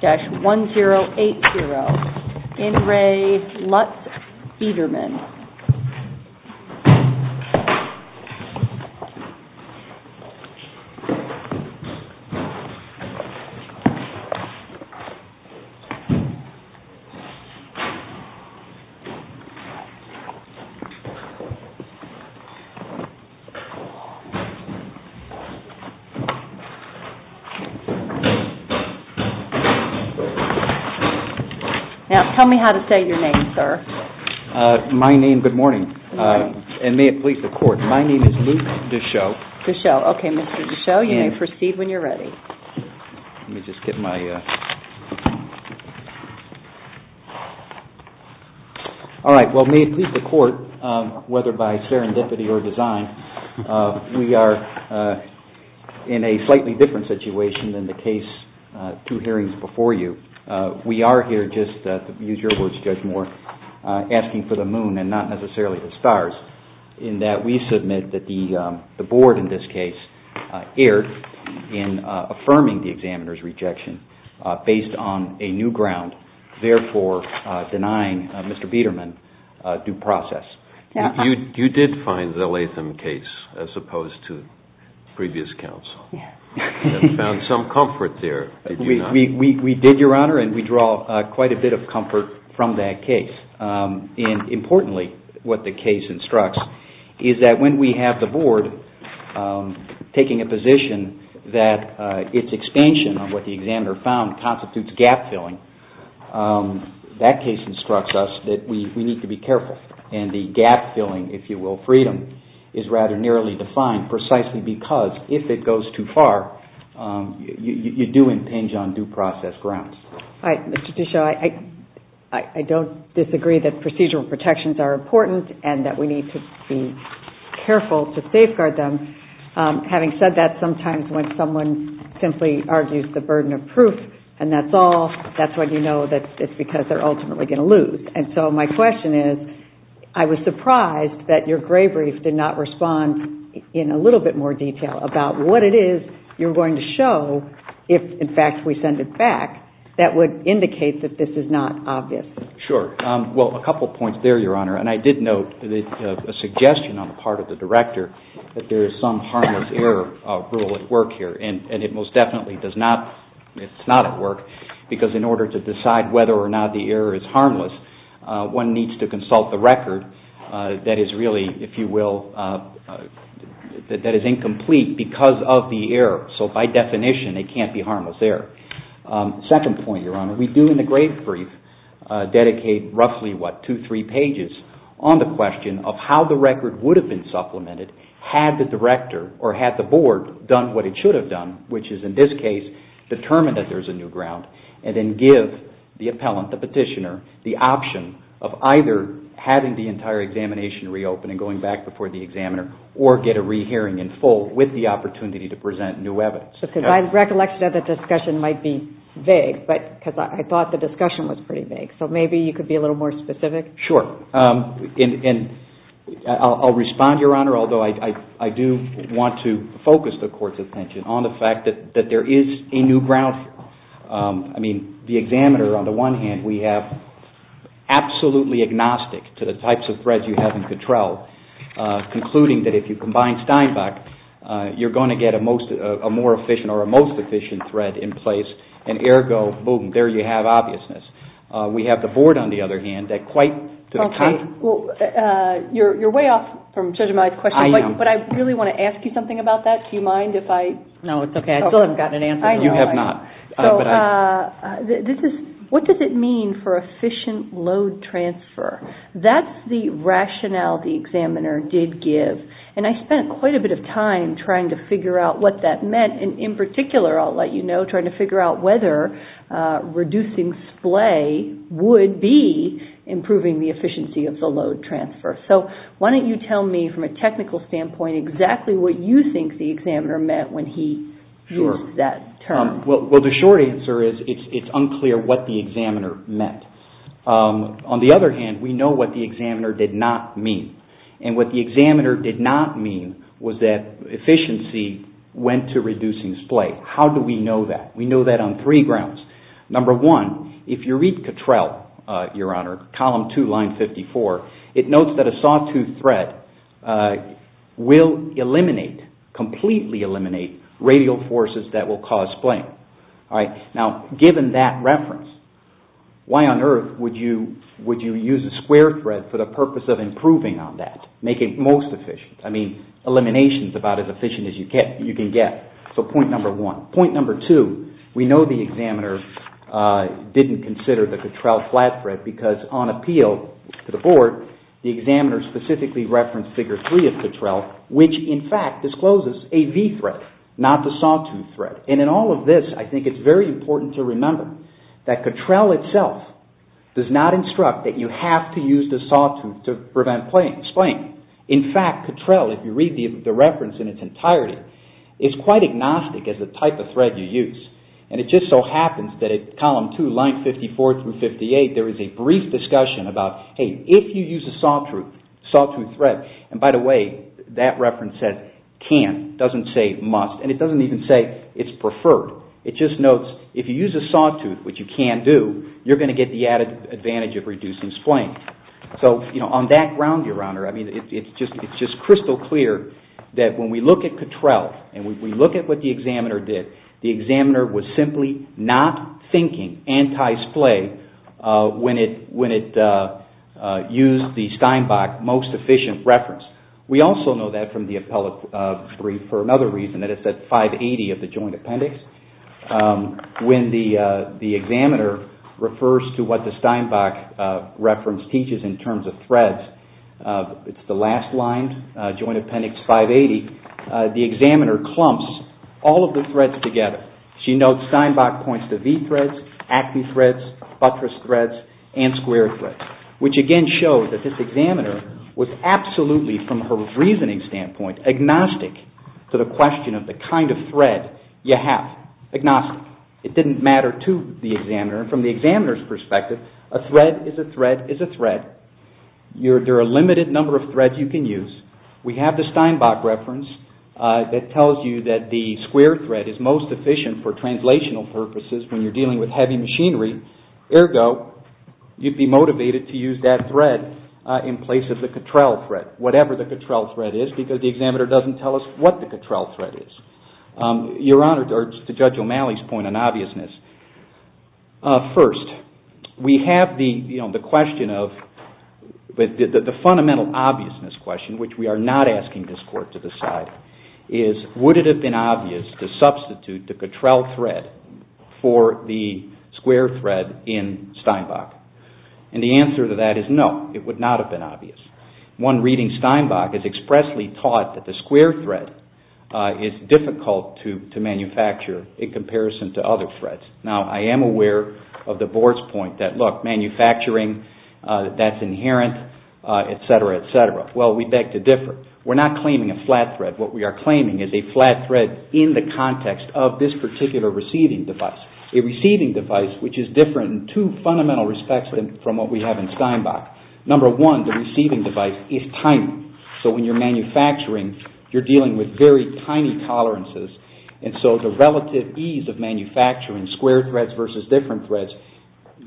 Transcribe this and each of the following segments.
dash one zero eight IN RE LUTZ BIEDERMANN Now, tell me how to say your name, sir. My name, good morning. And may it please the court, my name is Luke Deschaux. Deschaux. Okay, Mr. Deschaux, you may proceed when you're ready. Let me just get my... All right, well, may it please the court, whether by serendipity or design, we are in a slightly different situation than the case, two hearings before you. We are here just to use your words, Judge Moore, asking for the moon and not necessarily the stars, in that we submit that the board in this case erred in affirming the examiner's rejection based on a new ground, therefore denying Mr. Biedermann due process. You did find the Latham case, as opposed to previous counsel, and found some comfort there, did you not? We did, Your Honor, and we draw quite a bit of comfort from that case, and importantly, what the case instructs is that when we have the board taking a position that its expansion of what the examiner found constitutes gap-filling, that case instructs us that we need to be gap-filling, if you will, freedom is rather nearly defined, precisely because if it goes too far, you do impinge on due process grounds. All right, Mr. Deschaux, I don't disagree that procedural protections are important and that we need to be careful to safeguard them. Having said that, sometimes when someone simply argues the burden of proof, and that's all, that's when you know that it's because they're ultimately going to lose, and so my question is, I was surprised that your gray brief did not respond in a little bit more detail about what it is you're going to show if, in fact, we send it back, that would indicate that this is not obvious. Sure. Well, a couple of points there, Your Honor, and I did note a suggestion on the part of the director that there is some harmless error rule at work here, and it most definitely does not, it's not at work, because in order to decide whether or not the error is harmless, one needs to consult the record that is really, if you will, that is incomplete because of the error. So by definition, it can't be harmless error. Second point, Your Honor, we do, in the gray brief, dedicate roughly, what, two, three pages on the question of how the record would have been supplemented had the director or had the board done what it should have done, which is, in this case, determine that there's a new ground, and then give the appellant, the petitioner, the option of either having the entire examination reopen and going back before the examiner, or get a rehearing in full with the opportunity to present new evidence. Because my recollection of the discussion might be vague, but, because I thought the discussion was pretty vague, so maybe you could be a little more specific? Sure. And I'll respond, Your Honor, although I do want to focus the Court's attention on the board. I mean, the examiner, on the one hand, we have absolutely agnostic to the types of threads you have in control, concluding that if you combine Steinbach, you're going to get a more efficient or a most efficient thread in place, and ergo, boom, there you have obviousness. We have the board, on the other hand, that quite to the contrary... Okay. You're way off from Judge Amaya's question, but I really want to ask you something about that. Do you mind if I... No, it's okay. I mean, I still haven't gotten an answer. I know. You have not. But I... So, this is... What does it mean for efficient load transfer? That's the rationale the examiner did give, and I spent quite a bit of time trying to figure out what that meant, and in particular, I'll let you know, trying to figure out whether reducing splay would be improving the efficiency of the load transfer. So why don't you tell me, from a technical standpoint, exactly what you think the examiner meant when he used that term? Sure. Well, the short answer is it's unclear what the examiner meant. On the other hand, we know what the examiner did not mean, and what the examiner did not mean was that efficiency went to reducing splay. How do we know that? We know that on three grounds. Number one, if you read Cattrell, Your Honor, column two, line 54, it notes that a saw-tooth thread will eliminate, completely eliminate, radial forces that will cause splay. All right? Now, given that reference, why on earth would you use a square thread for the purpose of improving on that, making it most efficient? I mean, elimination is about as efficient as you can get. So point number one. Point number two, we know the examiner didn't consider the Cattrell flat thread because on appeal to the board, the examiner specifically referenced figure three of Cattrell, which in fact discloses a V-thread, not the saw-tooth thread. And in all of this, I think it's very important to remember that Cattrell itself does not instruct that you have to use the saw-tooth to prevent splaying. In fact, Cattrell, if you read the reference in its entirety, is quite agnostic as the type of thread you use. And it just so happens that at column two, line 54 through 58, there is a brief discussion about, hey, if you use a saw-tooth thread, and by the way, that reference says can't, doesn't say must, and it doesn't even say it's preferred. It just notes, if you use a saw-tooth, which you can do, you're going to get the added advantage of reducing splaying. So on that ground, Your Honor, I mean, it's just crystal clear that when we look at Cattrell and we look at what the examiner did, the examiner was simply not thinking anti-splay when it used the Steinbach most efficient reference. We also know that from the appellate brief for another reason, that it's at 580 of the joint appendix, when the examiner refers to what the Steinbach reference teaches in terms of threads, it's the last line, joint appendix 580, the examiner clumps all of the threads together. She notes Steinbach points to V-threads, Acme threads, buttress threads, and square threads, which again shows that this examiner was absolutely, from her reasoning standpoint, agnostic to the question of the kind of thread you have, agnostic. It didn't matter to the examiner. From the examiner's perspective, a thread is a thread is a thread. There are a limited number of threads you can use. We have the Steinbach reference that tells you that the square thread is most efficient for translational purposes when you're dealing with heavy machinery, ergo, you'd be motivated to use that thread in place of the Cattrell thread, whatever the Cattrell thread is, because the examiner doesn't tell us what the Cattrell thread is. Your Honor, to Judge O'Malley's point on obviousness, first, we have the question of, the fundamental obviousness question, which we are not asking this Court to decide, is would it have been obvious to substitute the Cattrell thread for the square thread in Steinbach? The answer to that is no, it would not have been obvious. One reading Steinbach has expressly taught that the square thread is difficult to manufacture in comparison to other threads. Now, I am aware of the Board's point that, look, manufacturing, that's inherent, et cetera, et cetera. Well, we beg to differ. We're not claiming a flat thread. What we are claiming is a flat thread in the context of this particular receiving device, a receiving device which is different in two fundamental respects from what we have in Steinbach. Number one, the receiving device is tiny, so when you're manufacturing, you're dealing with very tiny tolerances, and so the relative ease of manufacturing square threads versus different threads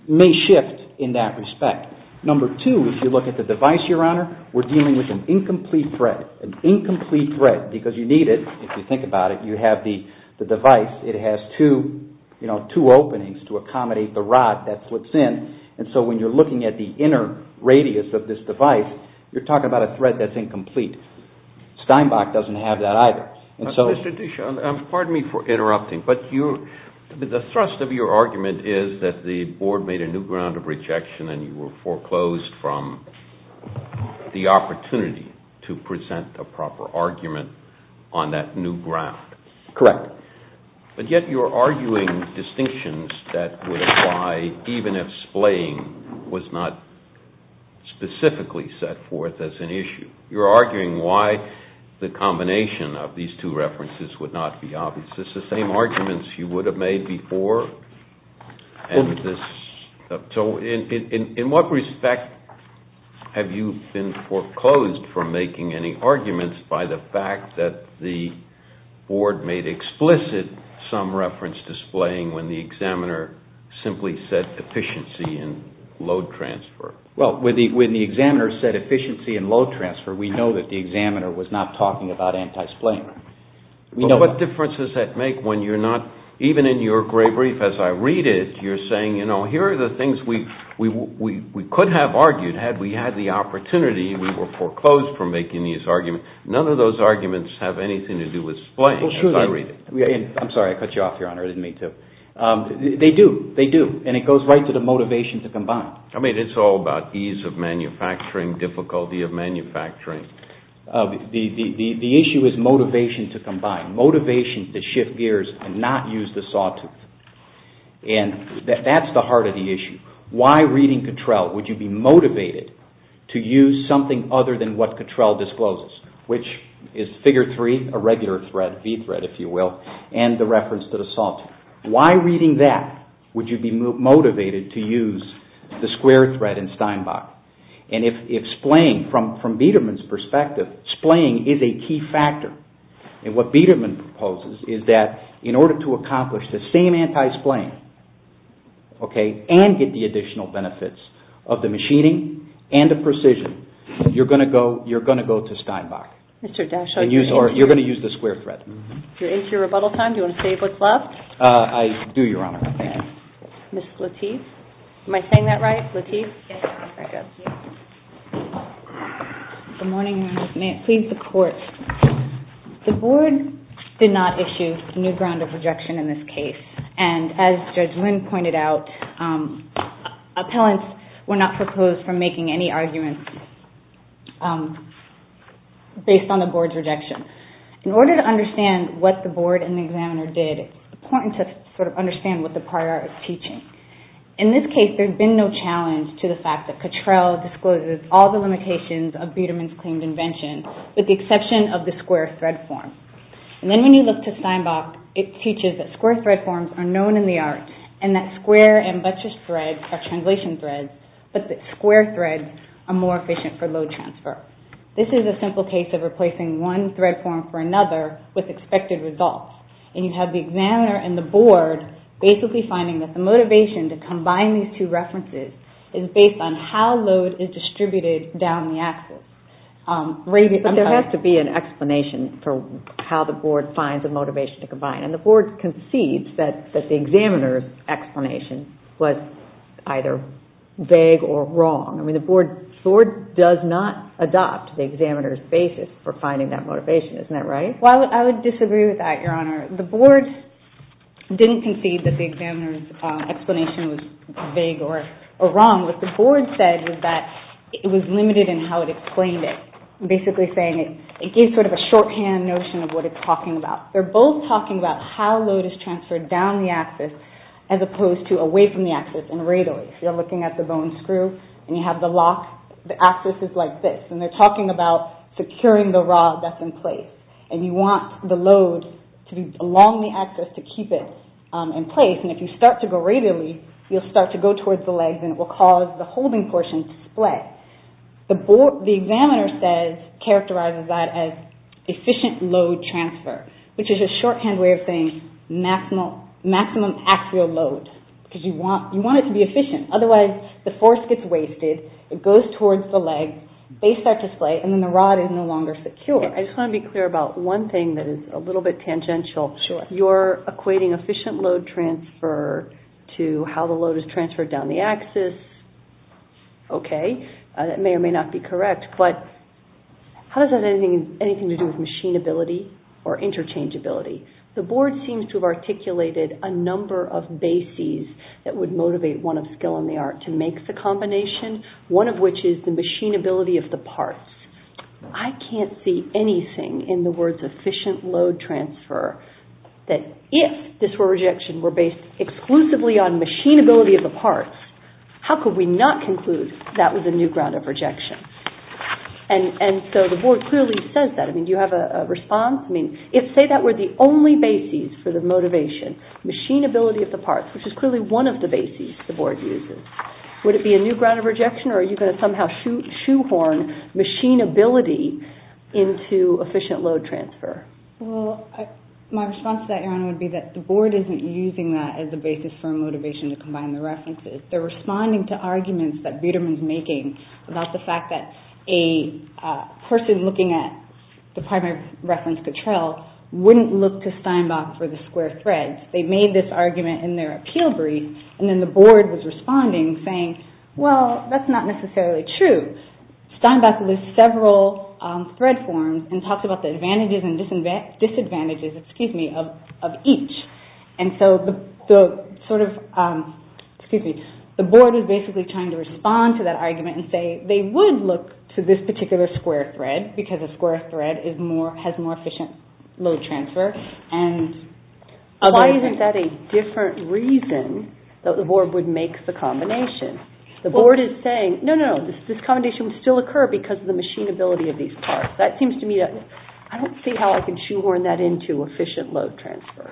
may shift in that respect. Number two, if you look at the device, Your Honor, we're dealing with an incomplete thread, an incomplete thread, because you need it, if you think about it, you have the device, it has two openings to accommodate the rod that flips in, and so when you're looking at the inner radius of this device, you're talking about a thread that's incomplete. Steinbach doesn't have that either, and so... Mr. Dishon, pardon me for interrupting, but the thrust of your argument is that the Board made a new ground of rejection and you were foreclosed from the opportunity to present a proper argument on that new ground. Correct. But yet you're arguing distinctions that would apply even if splaying was not specifically set forth as an issue. You're arguing why the combination of these two references would not be obvious. Is this the same arguments you would have made before? And this... So in what respect have you been foreclosed from making any arguments by the fact that the Board made explicit some reference to splaying when the examiner simply said efficiency and load transfer? Well, when the examiner said efficiency and load transfer, we know that the examiner was not talking about anti-splaying. We know... But what difference does that make when you're not... even in your gray brief, as I read it, you're saying, you know, here are the things we could have argued had we had the same thing to do with splaying, as I read it. I'm sorry, I cut you off, Your Honor, I didn't mean to. They do. They do. And it goes right to the motivation to combine. I mean, it's all about ease of manufacturing, difficulty of manufacturing. The issue is motivation to combine, motivation to shift gears and not use the sawtooth. And that's the heart of the issue. Why reading Cottrell would you be motivated to use something other than what Cottrell discloses, which is figure three, a regular thread, V-thread, if you will, and the reference to the sawtooth. Why reading that would you be motivated to use the square thread in Steinbach? And if splaying, from Biedermann's perspective, splaying is a key factor. And what Biedermann proposes is that in order to accomplish the same anti-splaying, okay, and get the additional benefits of the machining and the precision, you're going to go... You're going to go to Steinbach. Mr. Daschle... And you're going to use the square thread. You're into your rebuttal time. Do you want to say what's left? I do, Your Honor. Ms. Lateef? Am I saying that right? Lateef? Yes. Good morning, Your Honor. May it please the Court. The Board did not issue new ground of rejection in this case. And as Judge Wynn pointed out, appellants were not proposed for making any arguments based on the Board's rejection. In order to understand what the Board and the examiner did, it's important to sort of understand what the prior art is teaching. In this case, there's been no challenge to the fact that Cottrell discloses all the limitations of Biedermann's claimed invention, with the exception of the square thread form. And then when you look to Steinbach, it teaches that square thread forms are known in the art, and that square and buttressed threads are translation threads, but that square threads are more efficient for load transfer. This is a simple case of replacing one thread form for another with expected results. And you have the examiner and the Board basically finding that the motivation to combine these two references is based on how load is distributed down the axis. But there has to be an explanation for how the Board finds the motivation to combine. And the Board concedes that the examiner's explanation was either vague or wrong. I mean, the Board does not adopt the examiner's basis for finding that motivation. Isn't that right? Well, I would disagree with that, Your Honor. The Board didn't concede that the examiner's explanation was vague or wrong. What the Board said was that it was limited in how it explained it, basically saying it gave sort of a shorthand notion of what it's talking about. They're both talking about how load is transferred down the axis as opposed to away from the axis and radially. If you're looking at the bone screw and you have the lock, the axis is like this. And they're talking about securing the rod that's in place. And you want the load to be along the axis to keep it in place. And if you start to go radially, you'll start to go towards the legs and it will cause the holding portion to splay. The examiner says, characterizes that as efficient load transfer, which is a shorthand way of saying maximum axial load, because you want it to be efficient. Otherwise, the force gets wasted, it goes towards the legs, they start to splay, and then the rod is no longer secure. I just want to be clear about one thing that is a little bit tangential. Sure. You're equating efficient load transfer to how the load is transferred down the axis. Okay. That may or may not be correct. But how does that have anything to do with machinability or interchangeability? The board seems to have articulated a number of bases that would motivate one of skill and the art to make the combination, one of which is the machinability of the parts. I can't see anything in the words efficient load transfer that if this were rejection, were based exclusively on machinability of the parts, how could we not conclude that was a new ground of rejection? And so the board clearly says that. Do you have a response? I mean, if say that were the only bases for the motivation, machinability of the parts, which is clearly one of the bases the board uses, would it be a new ground of rejection or are you going to somehow shoehorn machinability into efficient load transfer? Well, my response to that, Erin, would be that the board isn't using that as a basis for motivation to combine the references. They're responding to arguments that Biderman's making about the fact that a person looking at the primary reference control wouldn't look to Steinbach for the square thread. They made this argument in their appeal brief and then the board was responding saying, well, that's not necessarily true. Steinbach lists several thread forms and talks about the advantages and disadvantages of each. And so the board is basically trying to respond to that argument and say they would look to this particular square thread because a square thread has more efficient load transfer. Why isn't that a different reason that the board would make the combination? The board is saying, no, no, no, this combination would still occur because of the machinability of these parts. That seems to me, I don't see how I can shoehorn that into efficient load transfer.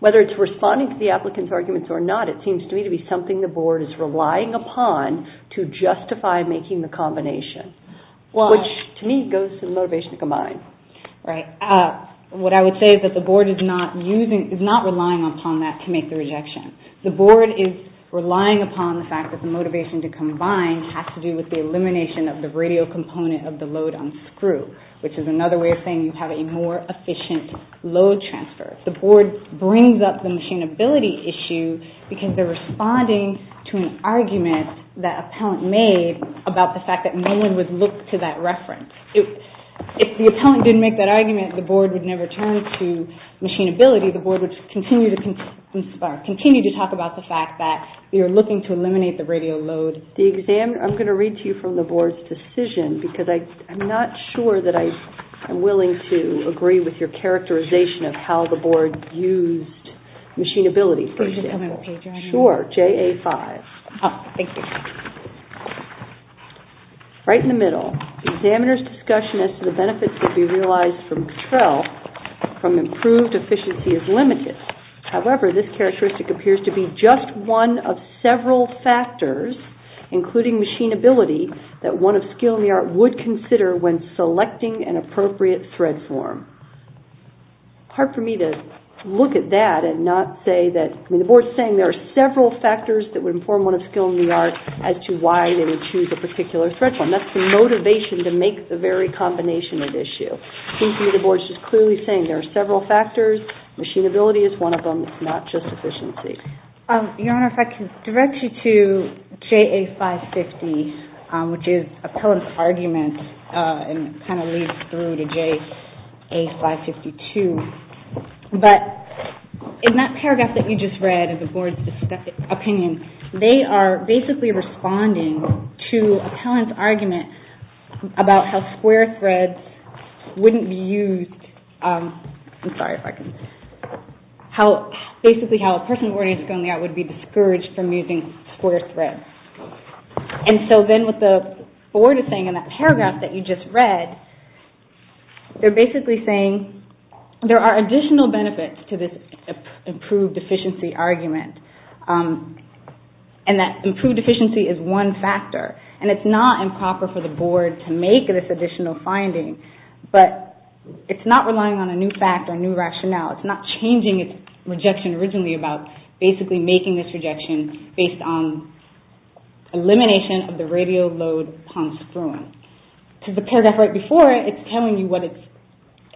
Whether it's responding to the applicant's arguments or not, it seems to me to be something the board is relying upon to justify making the combination, which to me goes to the motivation to combine. Right. What I would say is that the board is not relying upon that to make the rejection. The board is relying upon the fact that the motivation to combine has to do with the elimination of the radial component of the load on screw, which is another way of saying you have a more efficient load transfer. The board brings up the machinability issue because they're responding to an argument that appellant made about the fact that no one would look to that reference. If the appellant didn't make that argument, the board would never turn to machinability. The board would continue to talk about the fact that you're looking to eliminate the radial load. I'm going to read to you from the board's decision because I'm not sure that I'm willing to agree with your characterization of how the board used machinability. Sure. JA5. Thank you. Right in the middle, the examiner's discussion as to the benefits that can be realized from improved efficiency is limited. However, this characteristic appears to be just one of several factors, including machinability, that one of skill in the art would consider when selecting an appropriate thread form. It's hard for me to look at that and not say that... I mean, the board's saying there are several factors that would inform one of skill in the art as to why they would choose a particular thread form. That's the motivation to make the very combination at issue. It seems to me the board's just clearly saying there are several factors. Machinability is one of them. It's not just efficiency. Your Honor, if I can direct you to JA550, which is appellant's argument and kind of leads through to JA552. But in that paragraph that you just read of the board's opinion, they are basically responding to appellant's argument about how square threads wouldn't be used... I'm sorry if I can... Basically, how a person with skill in the art would be discouraged from using square threads. And so then what the board is saying in that paragraph that you just read, they're basically saying there are additional benefits to this improved efficiency argument, and that improved efficiency is one factor. And it's not improper for the board to make this additional finding, but it's not relying on a new fact or a new rationale. It's not changing its rejection originally about basically making this rejection based on elimination of the radial load upon screwing. Because the paragraph right before it, it's telling you what it's...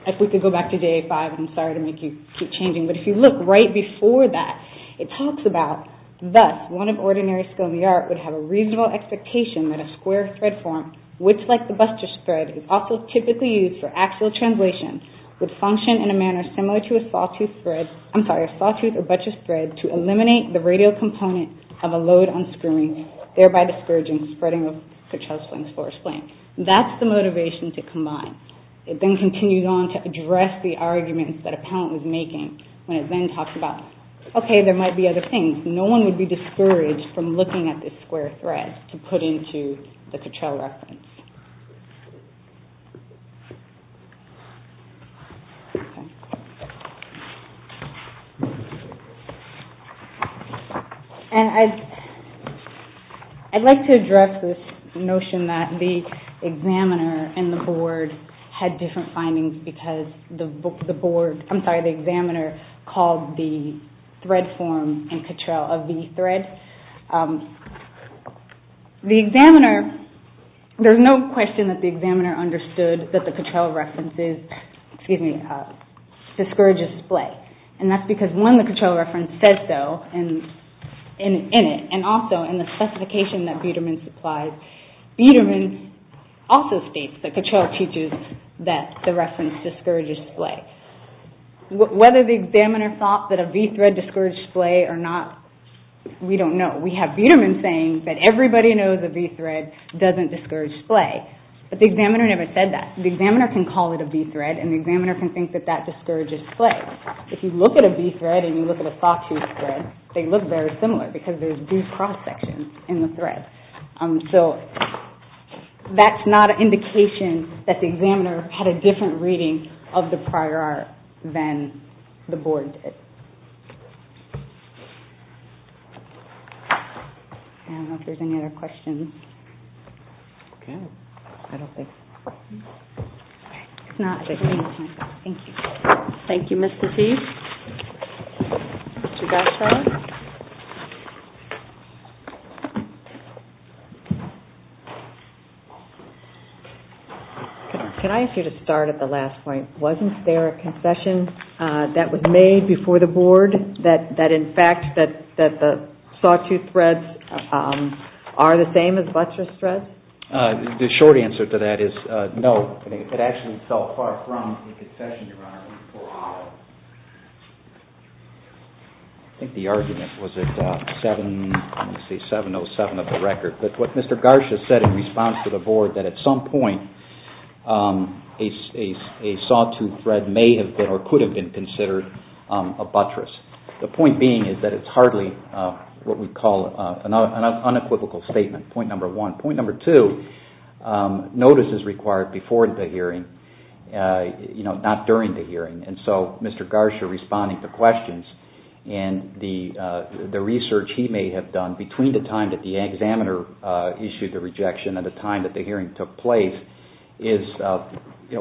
If we could go back to JA5, I'm sorry to make you keep changing, but if you look right before that, it talks about, thus, one of ordinary skill in the art would have a reasonable expectation that a square thread form, which like the Buster's thread, is also typically used for function in a manner similar to a sawtooth thread... I'm sorry, a sawtooth or butcher's thread to eliminate the radial component of a load on screwing, thereby discouraging spreading of Couttrell's Flames, Forest Flame. That's the motivation to combine. It then continues on to address the arguments that Appellant was making when it then talks about, okay, there might be other things. No one would be discouraged from looking at this square thread to put into the Couttrell reference. And I'd like to address this notion that the examiner and the board had different findings because the board... I'm sorry, the examiner called the thread form in Couttrell a V-thread. The examiner, there's no question that the examiner understood that the Couttrell reference is, excuse me, discourages splay. And that's because when the Couttrell reference says so in it, and also in the specification that Biedermann supplies, Biedermann also states that Couttrell teaches that the reference discourages splay. Whether the examiner thought that a V-thread discouraged splay or not, we don't know. We have Biedermann saying that everybody knows a V-thread doesn't discourage splay. But the examiner never said that. The examiner can call it a V-thread and the examiner can think that that discourages splay. If you look at a V-thread and you look at a Sawtooth thread, they look very similar because there's two cross sections in the thread. So that's not an indication that the examiner had a different reading of the prior art than the board did. I don't know if there's any other questions. Okay. I don't think so. Thank you. Thank you, Mr. Teague. Can I ask you to start at the last point? Wasn't there a concession that was made before the board that, in fact, that the Sawtooth threads are the same as buttress threads? The short answer to that is no. It actually fell far from the concession, Your Honor. I think the argument was at 7.07 of the record. But what Mr. Garcia said in response to the board that at some point, a Sawtooth thread may have been or could have been considered a buttress. The point being is that it's hardly what we call an unequivocal statement, point number one. Point number two, notice is required before the hearing, not during the hearing. And so Mr. Garcia responding to questions and the research he may have done between the time that the examiner issued the rejection and the time that the hearing took place is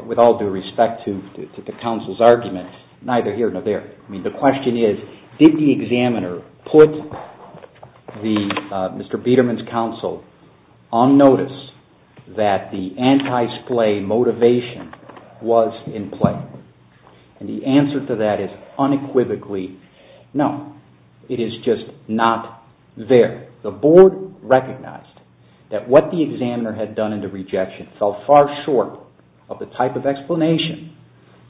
with all due respect to the counsel's argument, neither here nor there. I mean, the question is, did the examiner put Mr. Biederman's counsel on notice that the anti-splay motivation was in play? And the answer to that is unequivocally no. It is just not there. The board recognized that what the examiner had done in the rejection fell far short of the type of explanation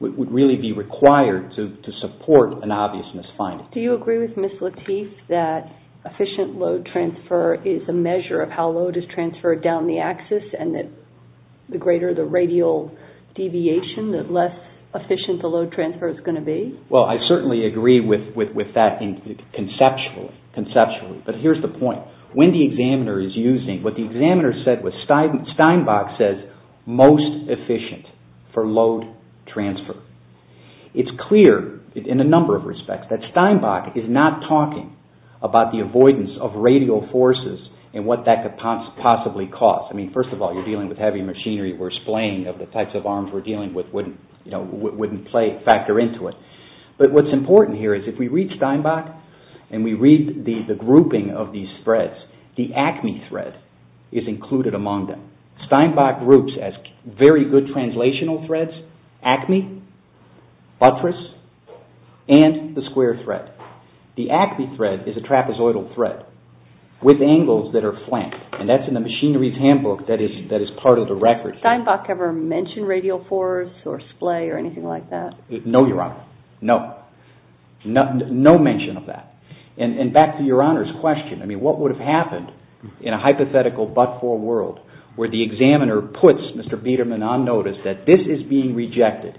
that would really be required to support an obvious misfinding. Do you agree with Ms. Lateef that efficient load transfer is a measure of how load is transferred down the axis and that the greater the radial deviation, the less efficient the load transfer is going to be? Well, I certainly agree with that conceptually. But here's the point. When the examiner is using, what the examiner said was, Steinbach says most efficient for load transfer. It's clear in a number of respects that Steinbach is not talking about the avoidance of radial forces and what that could possibly cause. I mean, first of all, you're dealing with heavy machinery where splaying of the types of arms we're dealing with wouldn't factor into it. But what's important here is if we read Steinbach and we read the grouping of these threads, the ACME thread is included among them. Steinbach groups as very good translational threads ACME, buttress, and the square thread. The ACME thread is a trapezoidal thread with angles that are flanked. And that's in the machinery's handbook that is part of the record. Did Steinbach ever mention radial force or splay or anything like that? No, Your Honor, no. No mention of that. And back to Your Honor's question, I mean, what would have happened in a hypothetical but-for world where the examiner puts Mr. Biederman on notice that this is being rejected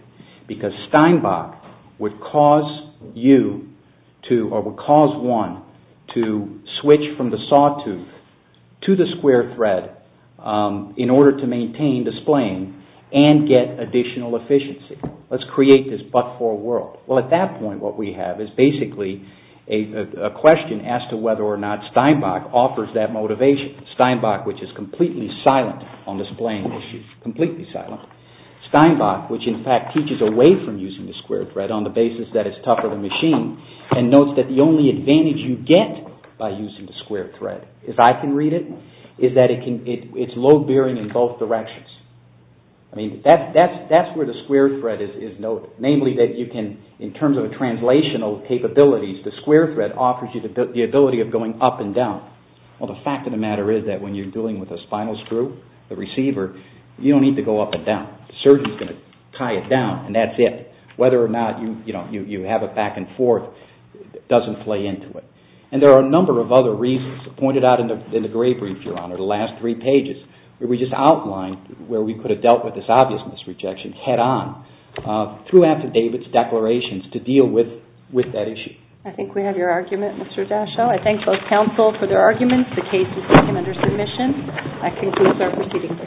because Steinbach would cause you to, or would cause one to switch from the sawtooth to the square thread in order to maintain the splaying and get additional efficiency. Let's create this but-for world. Well, at that point what we have is basically a question as to whether or not Steinbach offers that motivation. Steinbach, which is completely silent on the splaying issue, completely silent. Steinbach, which in fact teaches away from using the square thread on the basis that it's tougher than machine and notes that the only advantage you get by using the square thread, if I can read it, is that it's load-bearing in both directions. I mean, that's where the square thread is noted. Namely that you can, in terms of translational capabilities, the square thread offers you the ability of going up and down. Well, the fact of the matter is that when you're dealing with a spinal screw, a receiver, you don't need to go up and down. The surgeon's going to tie it down and that's it. Whether or not you have it back and forth doesn't play into it. And there are a number of other reasons pointed out in the gray brief, Your Honor, the last three pages, where we just outline where we could have dealt with this obvious misrejection head-on through affidavits, declarations, to deal with that issue. I think we have your argument, Mr. Daschle. I thank both counsel for their arguments. The case is taken under submission. I conclude our proceeding.